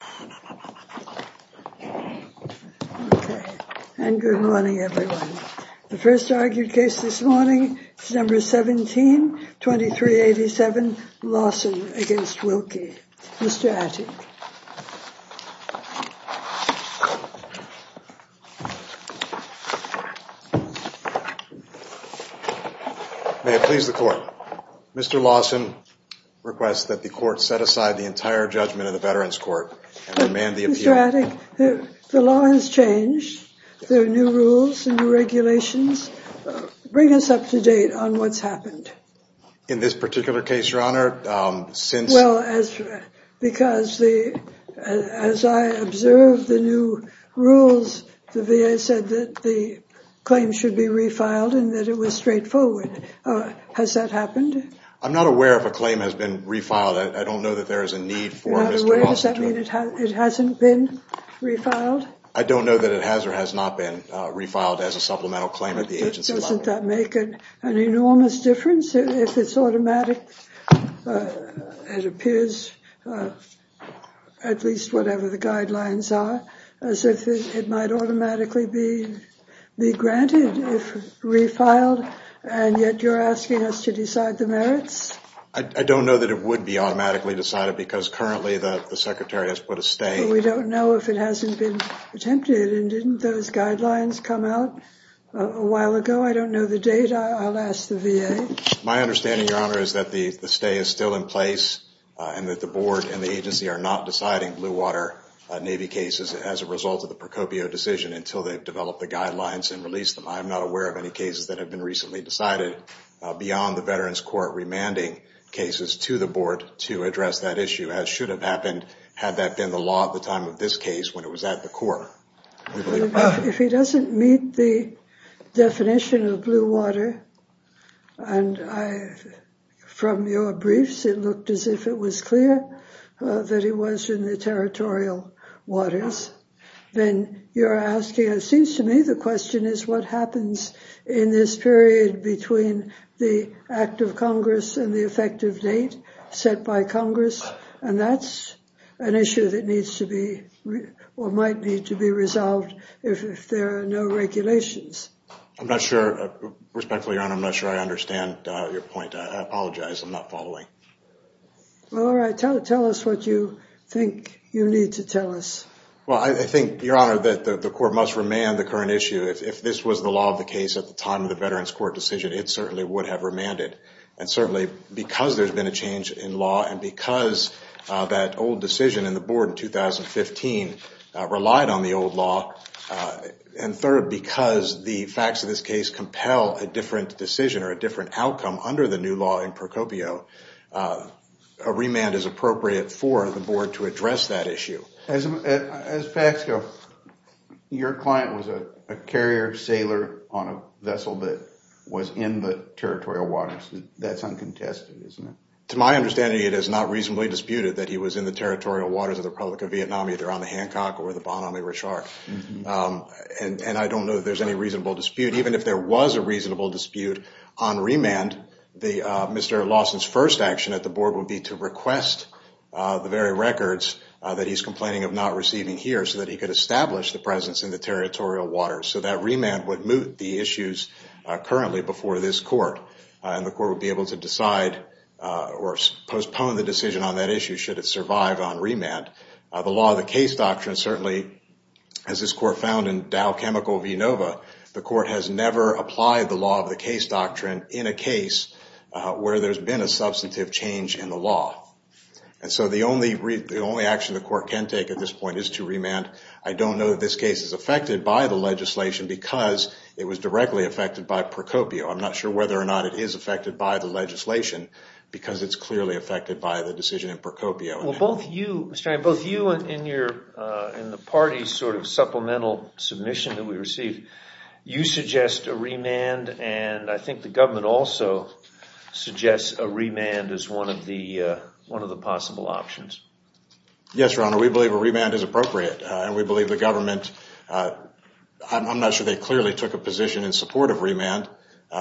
May it please the court, Mr. Lawson requests that the court set aside the entire judgment of the veterans court and demand the appeal. The law has changed. There are new rules and new regulations. Bring us up to date on what's happened. In this particular case, your honor, since well as because the as I observed the new rules, the VA said that the claim should be refiled and that it was straightforward. Has that happened? I'm not aware of a claim has been refiled. I don't know that there is a need for Mr. Lawson to approve it. I'm not aware. Does that mean it hasn't been refiled? I don't know that it has or has not been refiled as a supplemental claim at the agency level. Doesn't that make an enormous difference if it's automatic? It appears at least whatever the guidelines are, as if it might automatically be granted if refiled and yet you're asking us to decide the merits? I don't know that it would be automatically decided because currently the secretary has put a stay. We don't know if it hasn't been attempted. And didn't those guidelines come out a while ago? I don't know the data. I'll ask the VA. My understanding, your honor, is that the stay is still in place and that the board and the agency are not deciding Bluewater Navy cases as a result of the Procopio decision until they've developed the guidelines and release them. I'm not aware of any cases that have been recently decided beyond the Veterans Court remanding cases to the board to address that issue, as should have happened had that been the law at the time of this case when it was at the court. If he doesn't meet the definition of Bluewater, and from your briefs, it looked as if it was clear that he was in the territorial waters, then you're asking, it seems to me, the question is what happens in this period between the act of Congress and the effective date set by Congress? And that's an issue that needs to be or might need to be resolved if there are no regulations. I'm not sure. Respectfully, your honor, I'm not sure I understand your point. I apologize. I'm not following. All right. Tell us what you think you need to tell us. Well, I think, your honor, that the court must remand the current issue. If this was the law of the case at the time of the Veterans Court decision, it certainly would have remanded. And certainly, because there's been a change in law and because that old decision in the board in 2015 relied on the old law, and third, because the facts of this case compel a different decision or a different outcome under the new law in Procopio, a remand is appropriate for the board to address that issue. As facts go, your client was a carrier sailor on a vessel that was in the territorial waters. That's uncontested, isn't it? To my understanding, it is not reasonably disputed that he was in the territorial waters of the Republic of Vietnam, either on the Hancock or the Bon Ami Reshark. And I don't know that there's any reasonable dispute. Even if there was a reasonable dispute on remand, Mr. Lawson's first action at the board would be to request the very records that he's complaining of not receiving here so that he could establish the presence in the territorial waters. So that remand would moot the issues currently before this court. And the court would be able to decide or postpone the decision on that issue should it survive on remand. The law of the case doctrine certainly, as this court found in Dow Chemical v. Nova, the court has never applied the law of the case doctrine in a case where there's been a substantive change in the law. And so the only action the court can take at this point is to remand. I don't know that this case is affected by the legislation because it was directly affected by Procopio. I'm not sure whether or not it is affected by the legislation because it's clearly affected by the decision in Procopio. Well, both you, Mr. Ryan, both you and the party's sort of supplemental submission that we received, you suggest a remand and I think the government also suggests a remand as one of the possible options. Yes, Your Honor, we believe a remand is appropriate and we believe the government, I'm not sure they clearly took a position in support of remand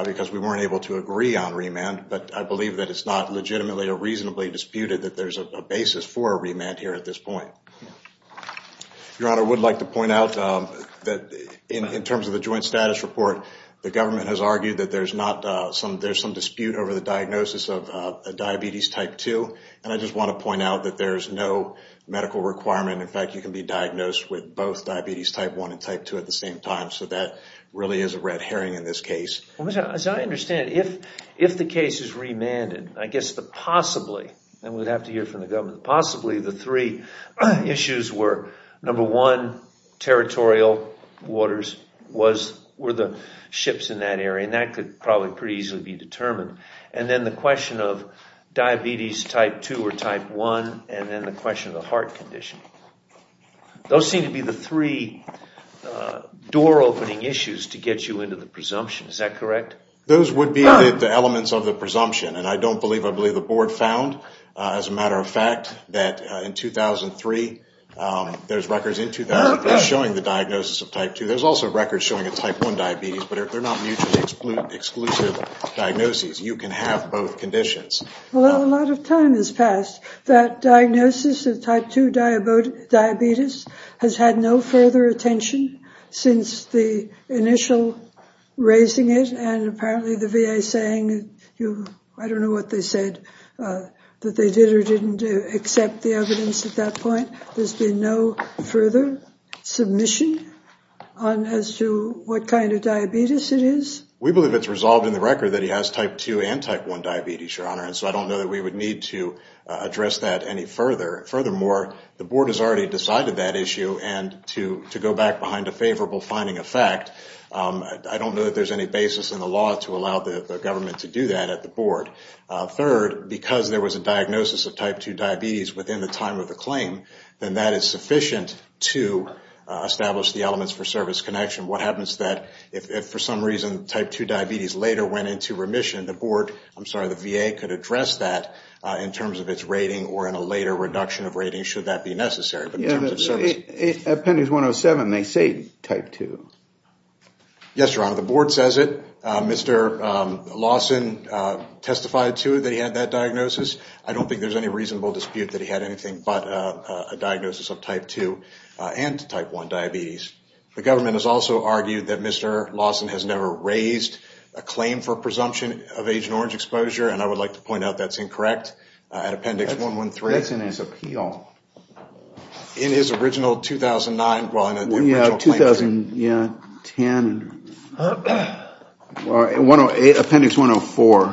because we weren't able to agree on remand. But I believe that it's not legitimately or reasonably disputed that there's a basis for a remand here at this point. Your Honor, I would like to point out that in terms of the joint status report, the government has argued that there's some dispute over the diagnosis of diabetes type 2. And I just want to point out that there's no medical requirement. In fact, you can be diagnosed with both diabetes type 1 and type 2 at the same time. So that really is a red herring in this case. As I understand it, if the case is remanded, I guess the possibly, and we'd have to hear from the government, possibly the three issues were, number one, territorial waters were the ships in that area and that could probably pretty easily be determined. And then the question of diabetes type 2 or type 1 and then the question of the heart condition. Those seem to be the three door opening issues to get you into the presumption. Is that correct? Those would be the elements of the presumption. And I don't believe, I believe the board found, as a matter of fact, that in 2003, there's records in 2003 showing the diagnosis of type 2. There's also records showing a type 1 diabetes, but they're not mutually exclusive diagnoses. You can have both conditions. Well, a lot of time has passed. That diagnosis of type 2 diabetes has had no further attention since the initial raising it. And apparently the VA saying, I don't know what they said that they did or didn't accept the evidence at that point. There's been no further submission on as to what kind of diabetes it is. We believe it's resolved in the record that he has type 2 and type 1 diabetes, Your Honor. And so I don't know that we would need to address that any further. Furthermore, the board has already decided that issue and to go back behind a favorable finding effect. I don't know that there's any basis in the law to allow the government to do that at the board. Third, because there was a diagnosis of type 2 diabetes within the time of the claim, then that is sufficient to establish the elements for service connection. What happens if, for some reason, type 2 diabetes later went into remission? The VA could address that in terms of its rating or in a later reduction of rating should that be necessary. At Appendix 107, they say type 2. Yes, Your Honor. The board says it. Mr. Lawson testified to it that he had that diagnosis. I don't think there's any reasonable dispute that he had anything but a diagnosis of type 2 and type 1 diabetes. The government has also argued that Mr. Lawson has never raised a claim for presumption of Agent Orange exposure, and I would like to point out that's incorrect at Appendix 113. That's in his appeal. In his original 2009, well, in the original claim. Appendix 104,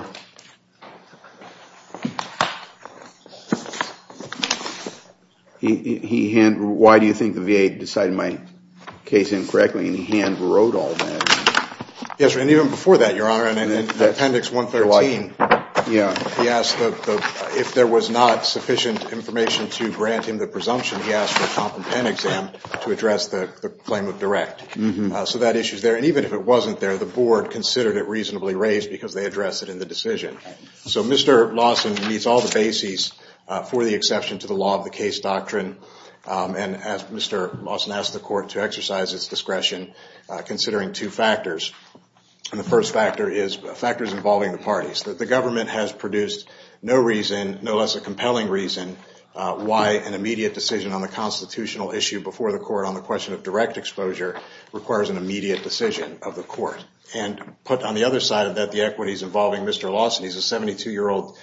why do you think the VA decided my case incorrectly, and he hand wrote all that? Yes, and even before that, Your Honor, in Appendix 113, he asked if there was not sufficient information to grant him the presumption, he asked for a comp and pen exam to address the claim of direct exposure. Correct. So that issue is there, and even if it wasn't there, the board considered it reasonably raised because they addressed it in the decision. So Mr. Lawson meets all the bases for the exception to the law of the case doctrine, and Mr. Lawson asked the court to exercise its discretion considering two factors, and the first factor is factors involving the parties. The government has produced no reason, no less a compelling reason, why an immediate decision on the constitutional issue before the court on the question of direct exposure requires an immediate decision of the court. And put on the other side of that, the equities involving Mr. Lawson, he's a 72-year-old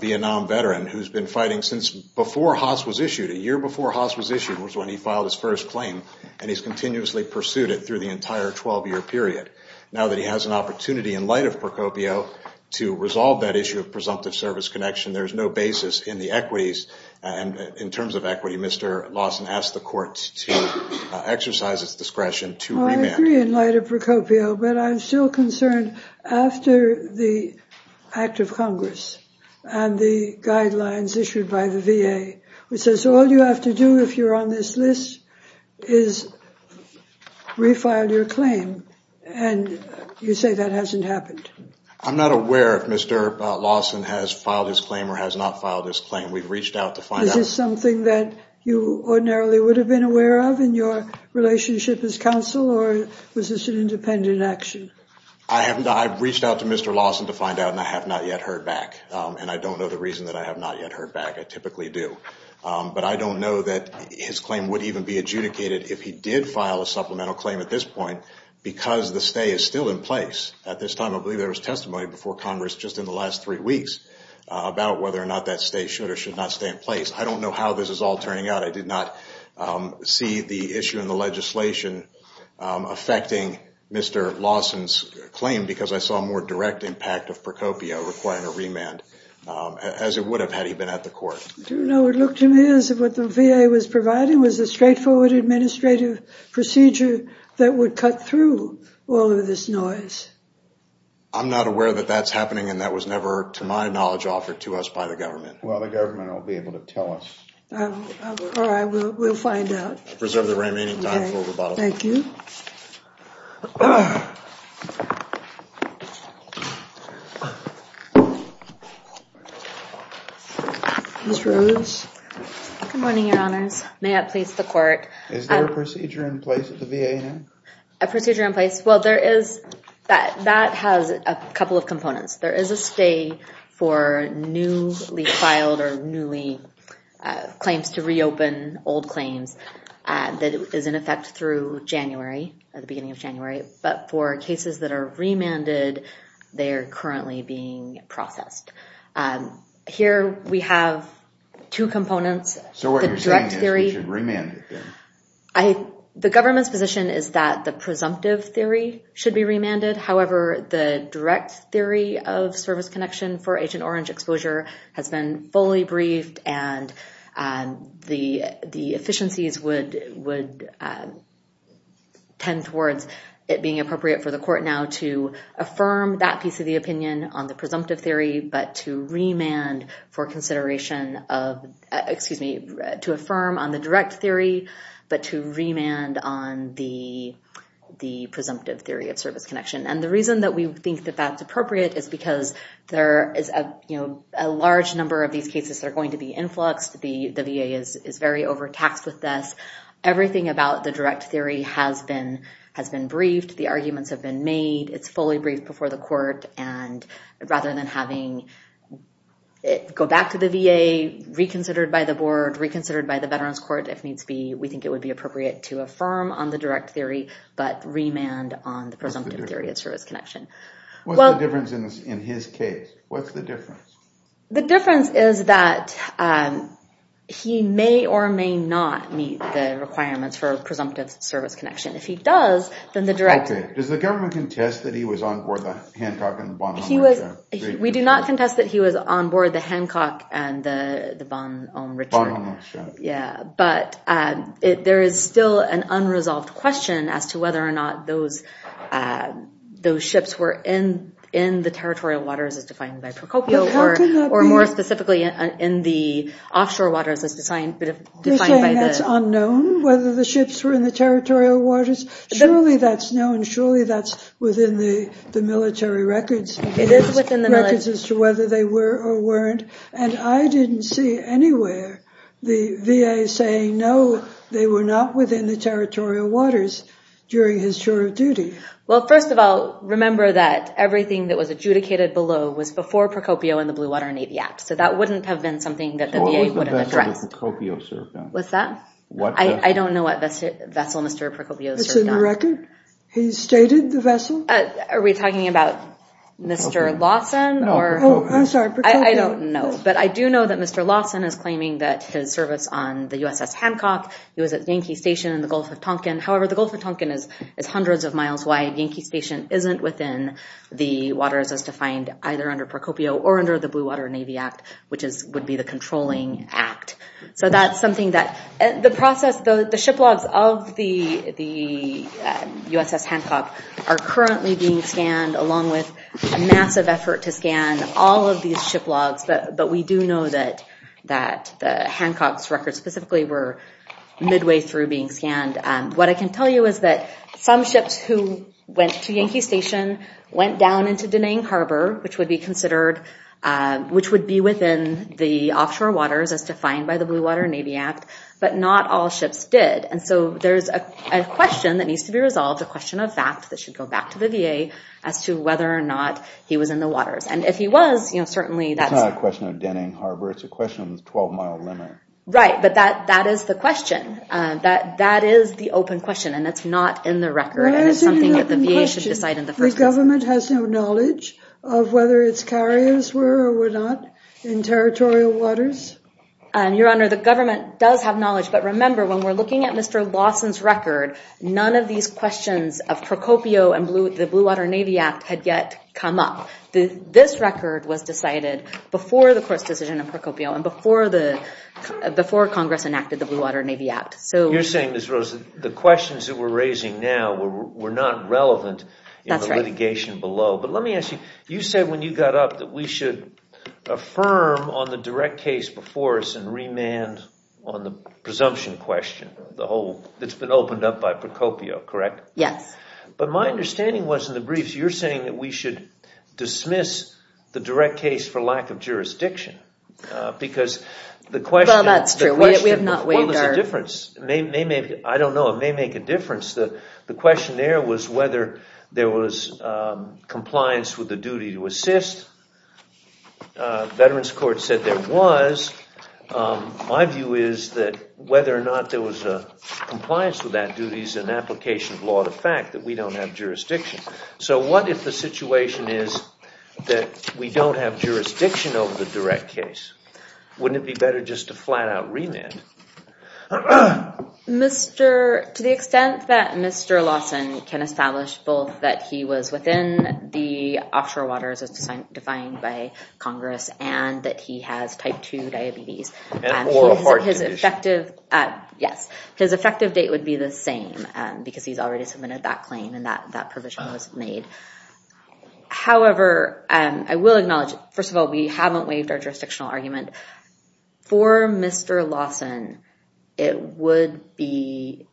Vietnam veteran who's been fighting since before Haas was issued. A year before Haas was issued was when he filed his first claim, and he's continuously pursued it through the entire 12-year period. Now that he has an opportunity in light of Procopio to resolve that issue of presumptive service connection, there's no basis in the equities, and in terms of equity, Mr. Lawson asked the court to exercise its discretion to remand. I agree in light of Procopio, but I'm still concerned after the act of Congress and the guidelines issued by the VA, which says all you have to do if you're on this list is refile your claim, and you say that hasn't happened. I'm not aware if Mr. Lawson has filed his claim or has not filed his claim. We've reached out to find out. Is this something that you ordinarily would have been aware of in your relationship as counsel, or was this an independent action? I reached out to Mr. Lawson to find out, and I have not yet heard back. And I don't know the reason that I have not yet heard back. I typically do. But I don't know that his claim would even be adjudicated if he did file a supplemental claim at this point, because the stay is still in place at this time. I believe there was testimony before Congress just in the last three weeks about whether or not that stay should or should not stay in place. I don't know how this is all turning out. I did not see the issue in the legislation affecting Mr. Lawson's claim because I saw a more direct impact of Procopio requiring a remand, as it would have had he been at the court. I don't know what it looked to me as if what the VA was providing was a straightforward administrative procedure that would cut through all of this noise. I'm not aware that that's happening, and that was never, to my knowledge, offered to us by the government. Well, the government won't be able to tell us. All right, we'll find out. Preserve the remaining time for rebuttal. Thank you. Ms. Rose? Good morning, Your Honors. May I please the court? Is there a procedure in place at the VA now? A procedure in place? That has a couple of components. There is a stay for newly filed or newly claims to reopen old claims that is in effect through January, at the beginning of January. But for cases that are remanded, they are currently being processed. Here we have two components. So what you're saying is we should remand it then? The government's position is that the presumptive theory should be remanded. However, the direct theory of service connection for Agent Orange exposure has been fully briefed, and the efficiencies would tend towards it being appropriate for the court now to affirm that piece of the opinion on the presumptive theory, but to remand for consideration of, excuse me, to affirm on the direct theory, but to remand on the presumptive theory of service connection. And the reason that we think that that's appropriate is because there is a large number of these cases that are going to be influxed. The VA is very overtaxed with this. Everything about the direct theory has been briefed. The arguments have been made. It's fully briefed before the court, and rather than having it go back to the VA, reconsidered by the board, reconsidered by the Veterans Court if needs be, we think it would be appropriate to affirm on the direct theory, but remand on the presumptive theory of service connection. What's the difference in his case? What's the difference? The difference is that he may or may not meet the requirements for presumptive service connection. If he does, then the direct theory. Does the government contest that he was on board the Hancock and the Von Ulm Richard? We do not contest that he was on board the Hancock and the Von Ulm Richard. Von Ulm Richard. Yeah, but there is still an unresolved question as to whether or not those ships were in the territorial waters as defined by Procopio, or more specifically in the offshore waters as defined by the- You're saying that's unknown, whether the ships were in the territorial waters? Surely that's known. Surely that's within the military records. It is within the military- Records as to whether they were or weren't, and I didn't see anywhere the VA saying no, they were not within the territorial waters during his short of duty. Well, first of all, remember that everything that was adjudicated below was before Procopio and the Blue Water Navy Act, so that wouldn't have been something that the VA would have addressed. So what was the vessel that Procopio served on? I don't know what vessel Mr. Procopio served on. It's in the record? He stated the vessel? Are we talking about Mr. Lawson or- Oh, I'm sorry, Procopio. I don't know, but I do know that Mr. Lawson is claiming that his service on the USS Hancock, he was at Yankee Station in the Gulf of Tonkin. However, the Gulf of Tonkin is hundreds of miles wide. Yankee Station isn't within the waters as defined either under Procopio or under the Blue Water Navy Act, which would be the controlling act. So that's something that the process, the ship logs of the USS Hancock are currently being scanned along with massive effort to scan all of these ship logs, but we do know that Hancock's records specifically were midway through being scanned. What I can tell you is that some ships who went to Yankee Station went down into Danang Harbor, which would be within the offshore waters as defined by the Blue Water Navy Act, but not all ships did. And so there's a question that needs to be resolved, a question of fact that should go back to the VA as to whether or not he was in the waters. And if he was, certainly that's- It's not a question of Danang Harbor. It's a question of the 12-mile limit. Right, but that is the question. That is the open question, and it's not in the record, and it's something that the VA should decide in the first place. The government has no knowledge of whether its carriers were or were not in territorial waters? Your Honor, the government does have knowledge, but remember when we're looking at Mr. Lawson's record, none of these questions of Procopio and the Blue Water Navy Act had yet come up. This record was decided before the court's decision on Procopio and before Congress enacted the Blue Water Navy Act. You're saying, Ms. Rose, the questions that we're raising now were not relevant in the litigation below. But let me ask you, you said when you got up that we should affirm on the direct case before us and remand on the presumption question that's been opened up by Procopio, correct? Yes. But my understanding was in the briefs you're saying that we should dismiss the direct case for lack of jurisdiction because the question- Well, that's true. We have not weighed our- I don't know. It may make a difference. The question there was whether there was compliance with the duty to assist. Veterans Court said there was. My view is that whether or not there was compliance with that duty is an application of law to fact, that we don't have jurisdiction. So what if the situation is that we don't have jurisdiction over the direct case? Wouldn't it be better just to flat out remand? To the extent that Mr. Lawson can establish both that he was within the offshore waters as defined by Congress and that he has type 2 diabetes- And oral heart disease. Yes. His effective date would be the same because he's already submitted that claim and that provision was made. However, I will acknowledge, first of all, we haven't waived our jurisdictional argument. For Mr. Lawson, it would be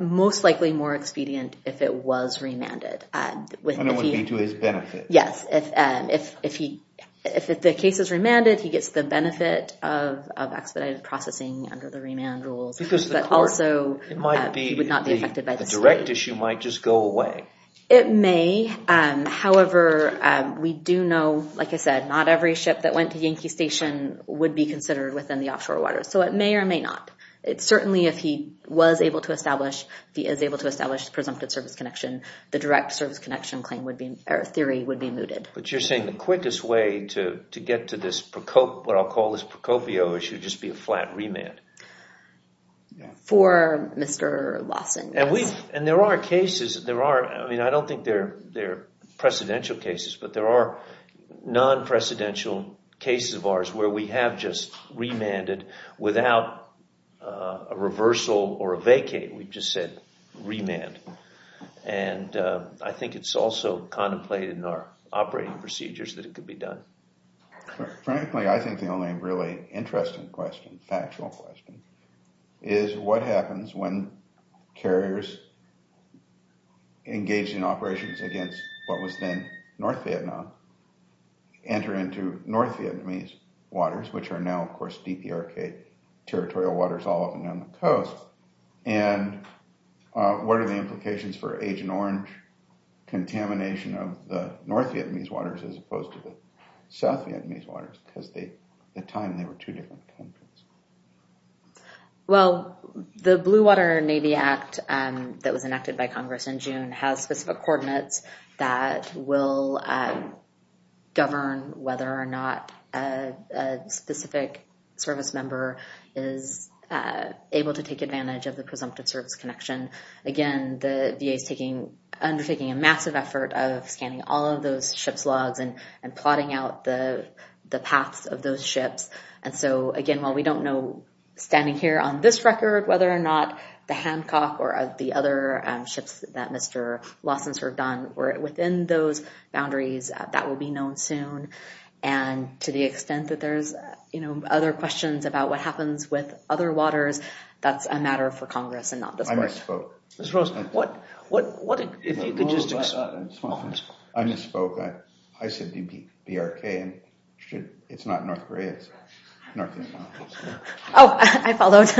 most likely more expedient if it was remanded. And it would be to his benefit. Yes. If the case is remanded, he gets the benefit of expedited processing under the remand rules, but also he would not be affected by the state. The direct issue might just go away. It may. However, we do know, like I said, not every ship that went to Yankee Station would be considered within the offshore waters. So it may or may not. Certainly, if he was able to establish presumptive service connection, the direct service connection theory would be mooted. But you're saying the quickest way to get to what I'll call this Procopio issue would just be a flat remand. For Mr. Lawson, yes. And there are cases, I don't think they're precedential cases, but there are non-precedential cases of ours where we have just remanded without a reversal or a vacate. We've just said remand. And I think it's also contemplated in our operating procedures that it could be done. Frankly, I think the only really interesting question, factual question, is what happens when carriers engaged in operations against what was then North Vietnam enter into North Vietnamese waters, which are now, of course, DPRK territorial waters all up and down the coast. And what are the implications for Agent Orange contamination of the North Vietnamese waters as opposed to the South Vietnamese waters? Because at the time, they were two different countries. Well, the Blue Water Navy Act that was enacted by Congress in June has specific coordinates that will govern whether or not a specific service member is able to take advantage of the presumptive service connection. Again, the VA is undertaking a massive effort of scanning all of those ship's logs and plotting out the paths of those ships. And so, again, while we don't know, standing here on this record, whether or not the Hancock or the other ships that Mr. Lawson's have done were within those boundaries, that will be known soon. And to the extent that there's other questions about what happens with other waters, that's a matter for Congress and not this place. I misspoke. Ms. Rose, what, if you could just explain. I misspoke. I said DPRK. It's not North Korea. It's North Vietnam. Oh, I followed.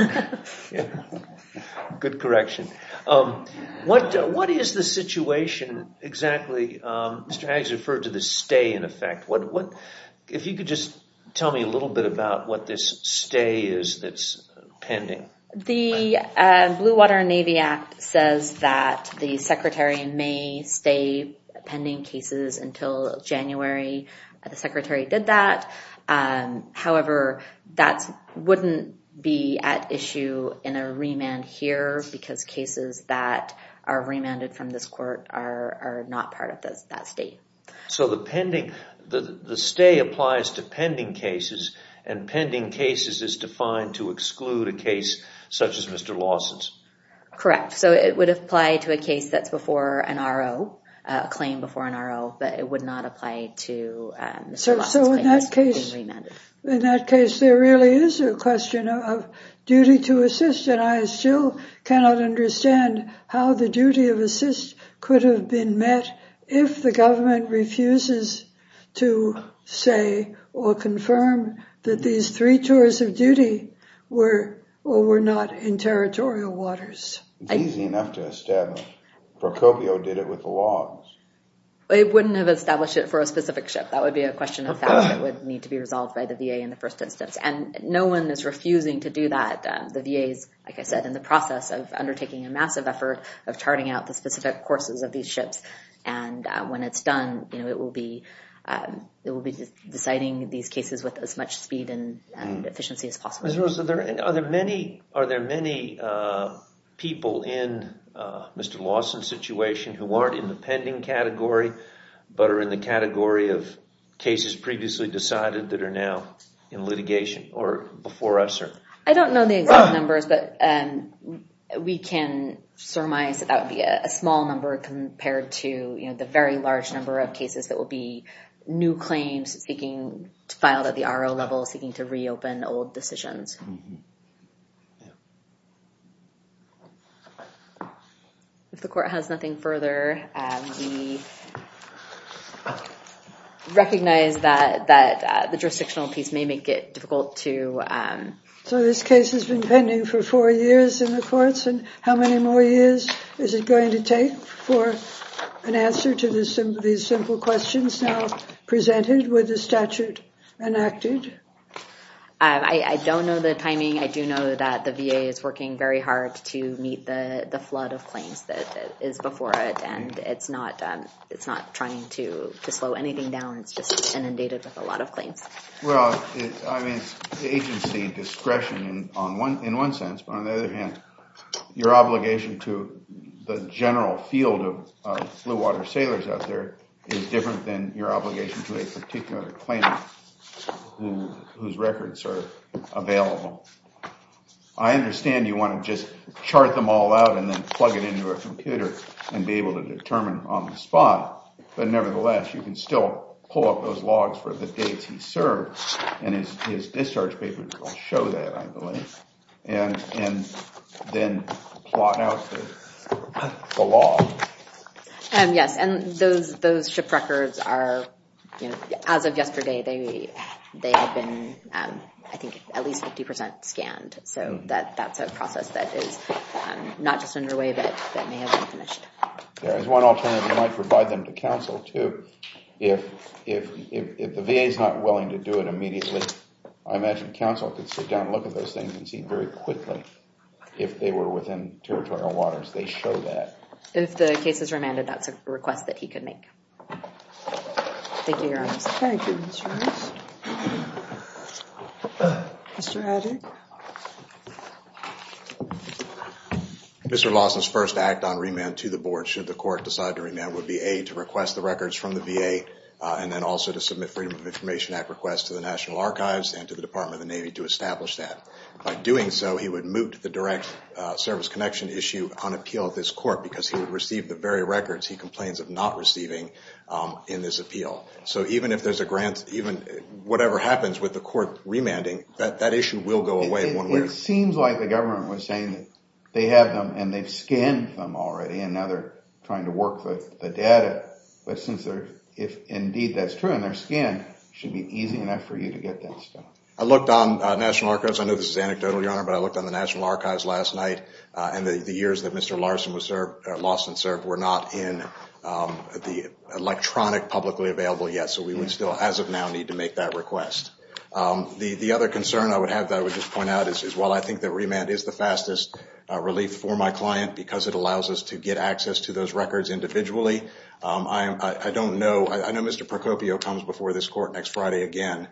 Good correction. What is the situation exactly? Mr. Haggs referred to the stay in effect. If you could just tell me a little bit about what this stay is that's pending. The Blue Water and Navy Act says that the Secretary may stay pending cases until January. The Secretary did that. However, that wouldn't be at issue in a remand here because cases that are remanded from this court are not part of that stay. So the pending, the stay applies to pending cases, and pending cases is defined to exclude a case such as Mr. Lawson's. Correct. So it would apply to a case that's before an RO, a claim before an RO, but it would not apply to Mr. Lawson's claim that's being remanded. So in that case, there really is a question of duty to assist, and I still cannot understand how the duty of assist could have been met if the government refuses to say or confirm that these three tours of duty were or were not in territorial waters. It's easy enough to establish. Procopio did it with the logs. They wouldn't have established it for a specific ship. That would be a question of fact that would need to be resolved by the VA in the first instance, and no one is refusing to do that. The VA is, like I said, in the process of undertaking a massive effort of charting out the specific courses of these ships, and when it's done it will be deciding these cases with as much speed and efficiency as possible. Are there many people in Mr. Lawson's situation who aren't in the pending category but are in the category of cases previously decided that are now in litigation or before us? I don't know the exact numbers, but we can surmise that that would be a small number compared to the very large number of cases that will be new claims filed at the RO level seeking to reopen old decisions. If the court has nothing further, we recognize that the jurisdictional piece may make it difficult to... So this case has been pending for four years in the courts, and how many more years is it going to take for an answer to these simple questions now presented with the statute enacted? I don't know the timing. I do know that the VA is working very hard to meet the flood of claims that is before it, and it's not trying to slow anything down. It's just inundated with a lot of claims. Well, I mean, it's agency discretion in one sense, but on the other hand your obligation to the general field of blue water sailors out there is different than your obligation to a particular claimant whose records are available. I understand you want to just chart them all out and then plug it into a computer and be able to determine on the spot, but nevertheless you can still pull up those logs for the dates he served, and his discharge papers will show that, I believe, and then plot out the log. Yes, and those ship records are, as of yesterday, they have been, I think, at least 50% scanned. So that's a process that is not just underway but may have been finished. There is one alternative. You might provide them to counsel, too. If the VA is not willing to do it immediately, I imagine counsel could sit down and look at those things and see very quickly if they were within territorial waters. They show that. If the case is remanded, that's a request that he could make. Thank you, Your Honors. Thank you, Ms. Rice. Mr. Haddock? Mr. Lawson's first act on remand to the board should the court decide to remand would be A, to request the records from the VA, and then also to submit Freedom of Information Act requests to the National Archives and to the Department of the Navy to establish that. By doing so, he would moot the direct service connection issue on appeal at this court because he would receive the very records he complains of not receiving in this appeal. So even if there's a grant, whatever happens with the court remanding, that issue will go away. It seems like the government was saying that they have them and they've scanned them already and now they're trying to work the data. But if indeed that's true and they're scanned, it should be easy enough for you to get that stuff. I looked on National Archives. I know this is anecdotal, Your Honor, but I looked on the National Archives last night and the years that Mr. Lawson served were not in the electronic publicly available yet so we would still, as of now, need to make that request. The other concern I would have that I would just point out is, while I think that remand is the fastest relief for my client because it allows us to get access to those records individually, I know Mr. Procopio comes before this court next Friday again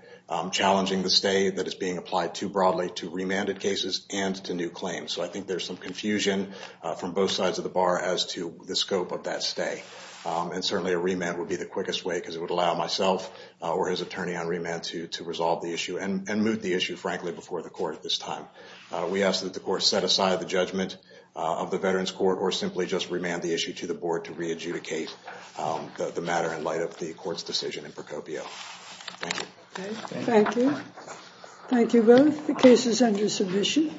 challenging the stay that is being applied too broadly to remanded cases and to new claims. So I think there's some confusion from both sides of the bar as to the scope of that stay. And certainly a remand would be the quickest way because it would allow myself or his attorney on remand to resolve the issue and moot the issue, frankly, before the court at this time. We ask that the court set aside the judgment of the Veterans Court or simply just remand the issue to the board to re-adjudicate the matter in light of the court's decision in Procopio. Thank you. Thank you. Thank you both. The case is under submission.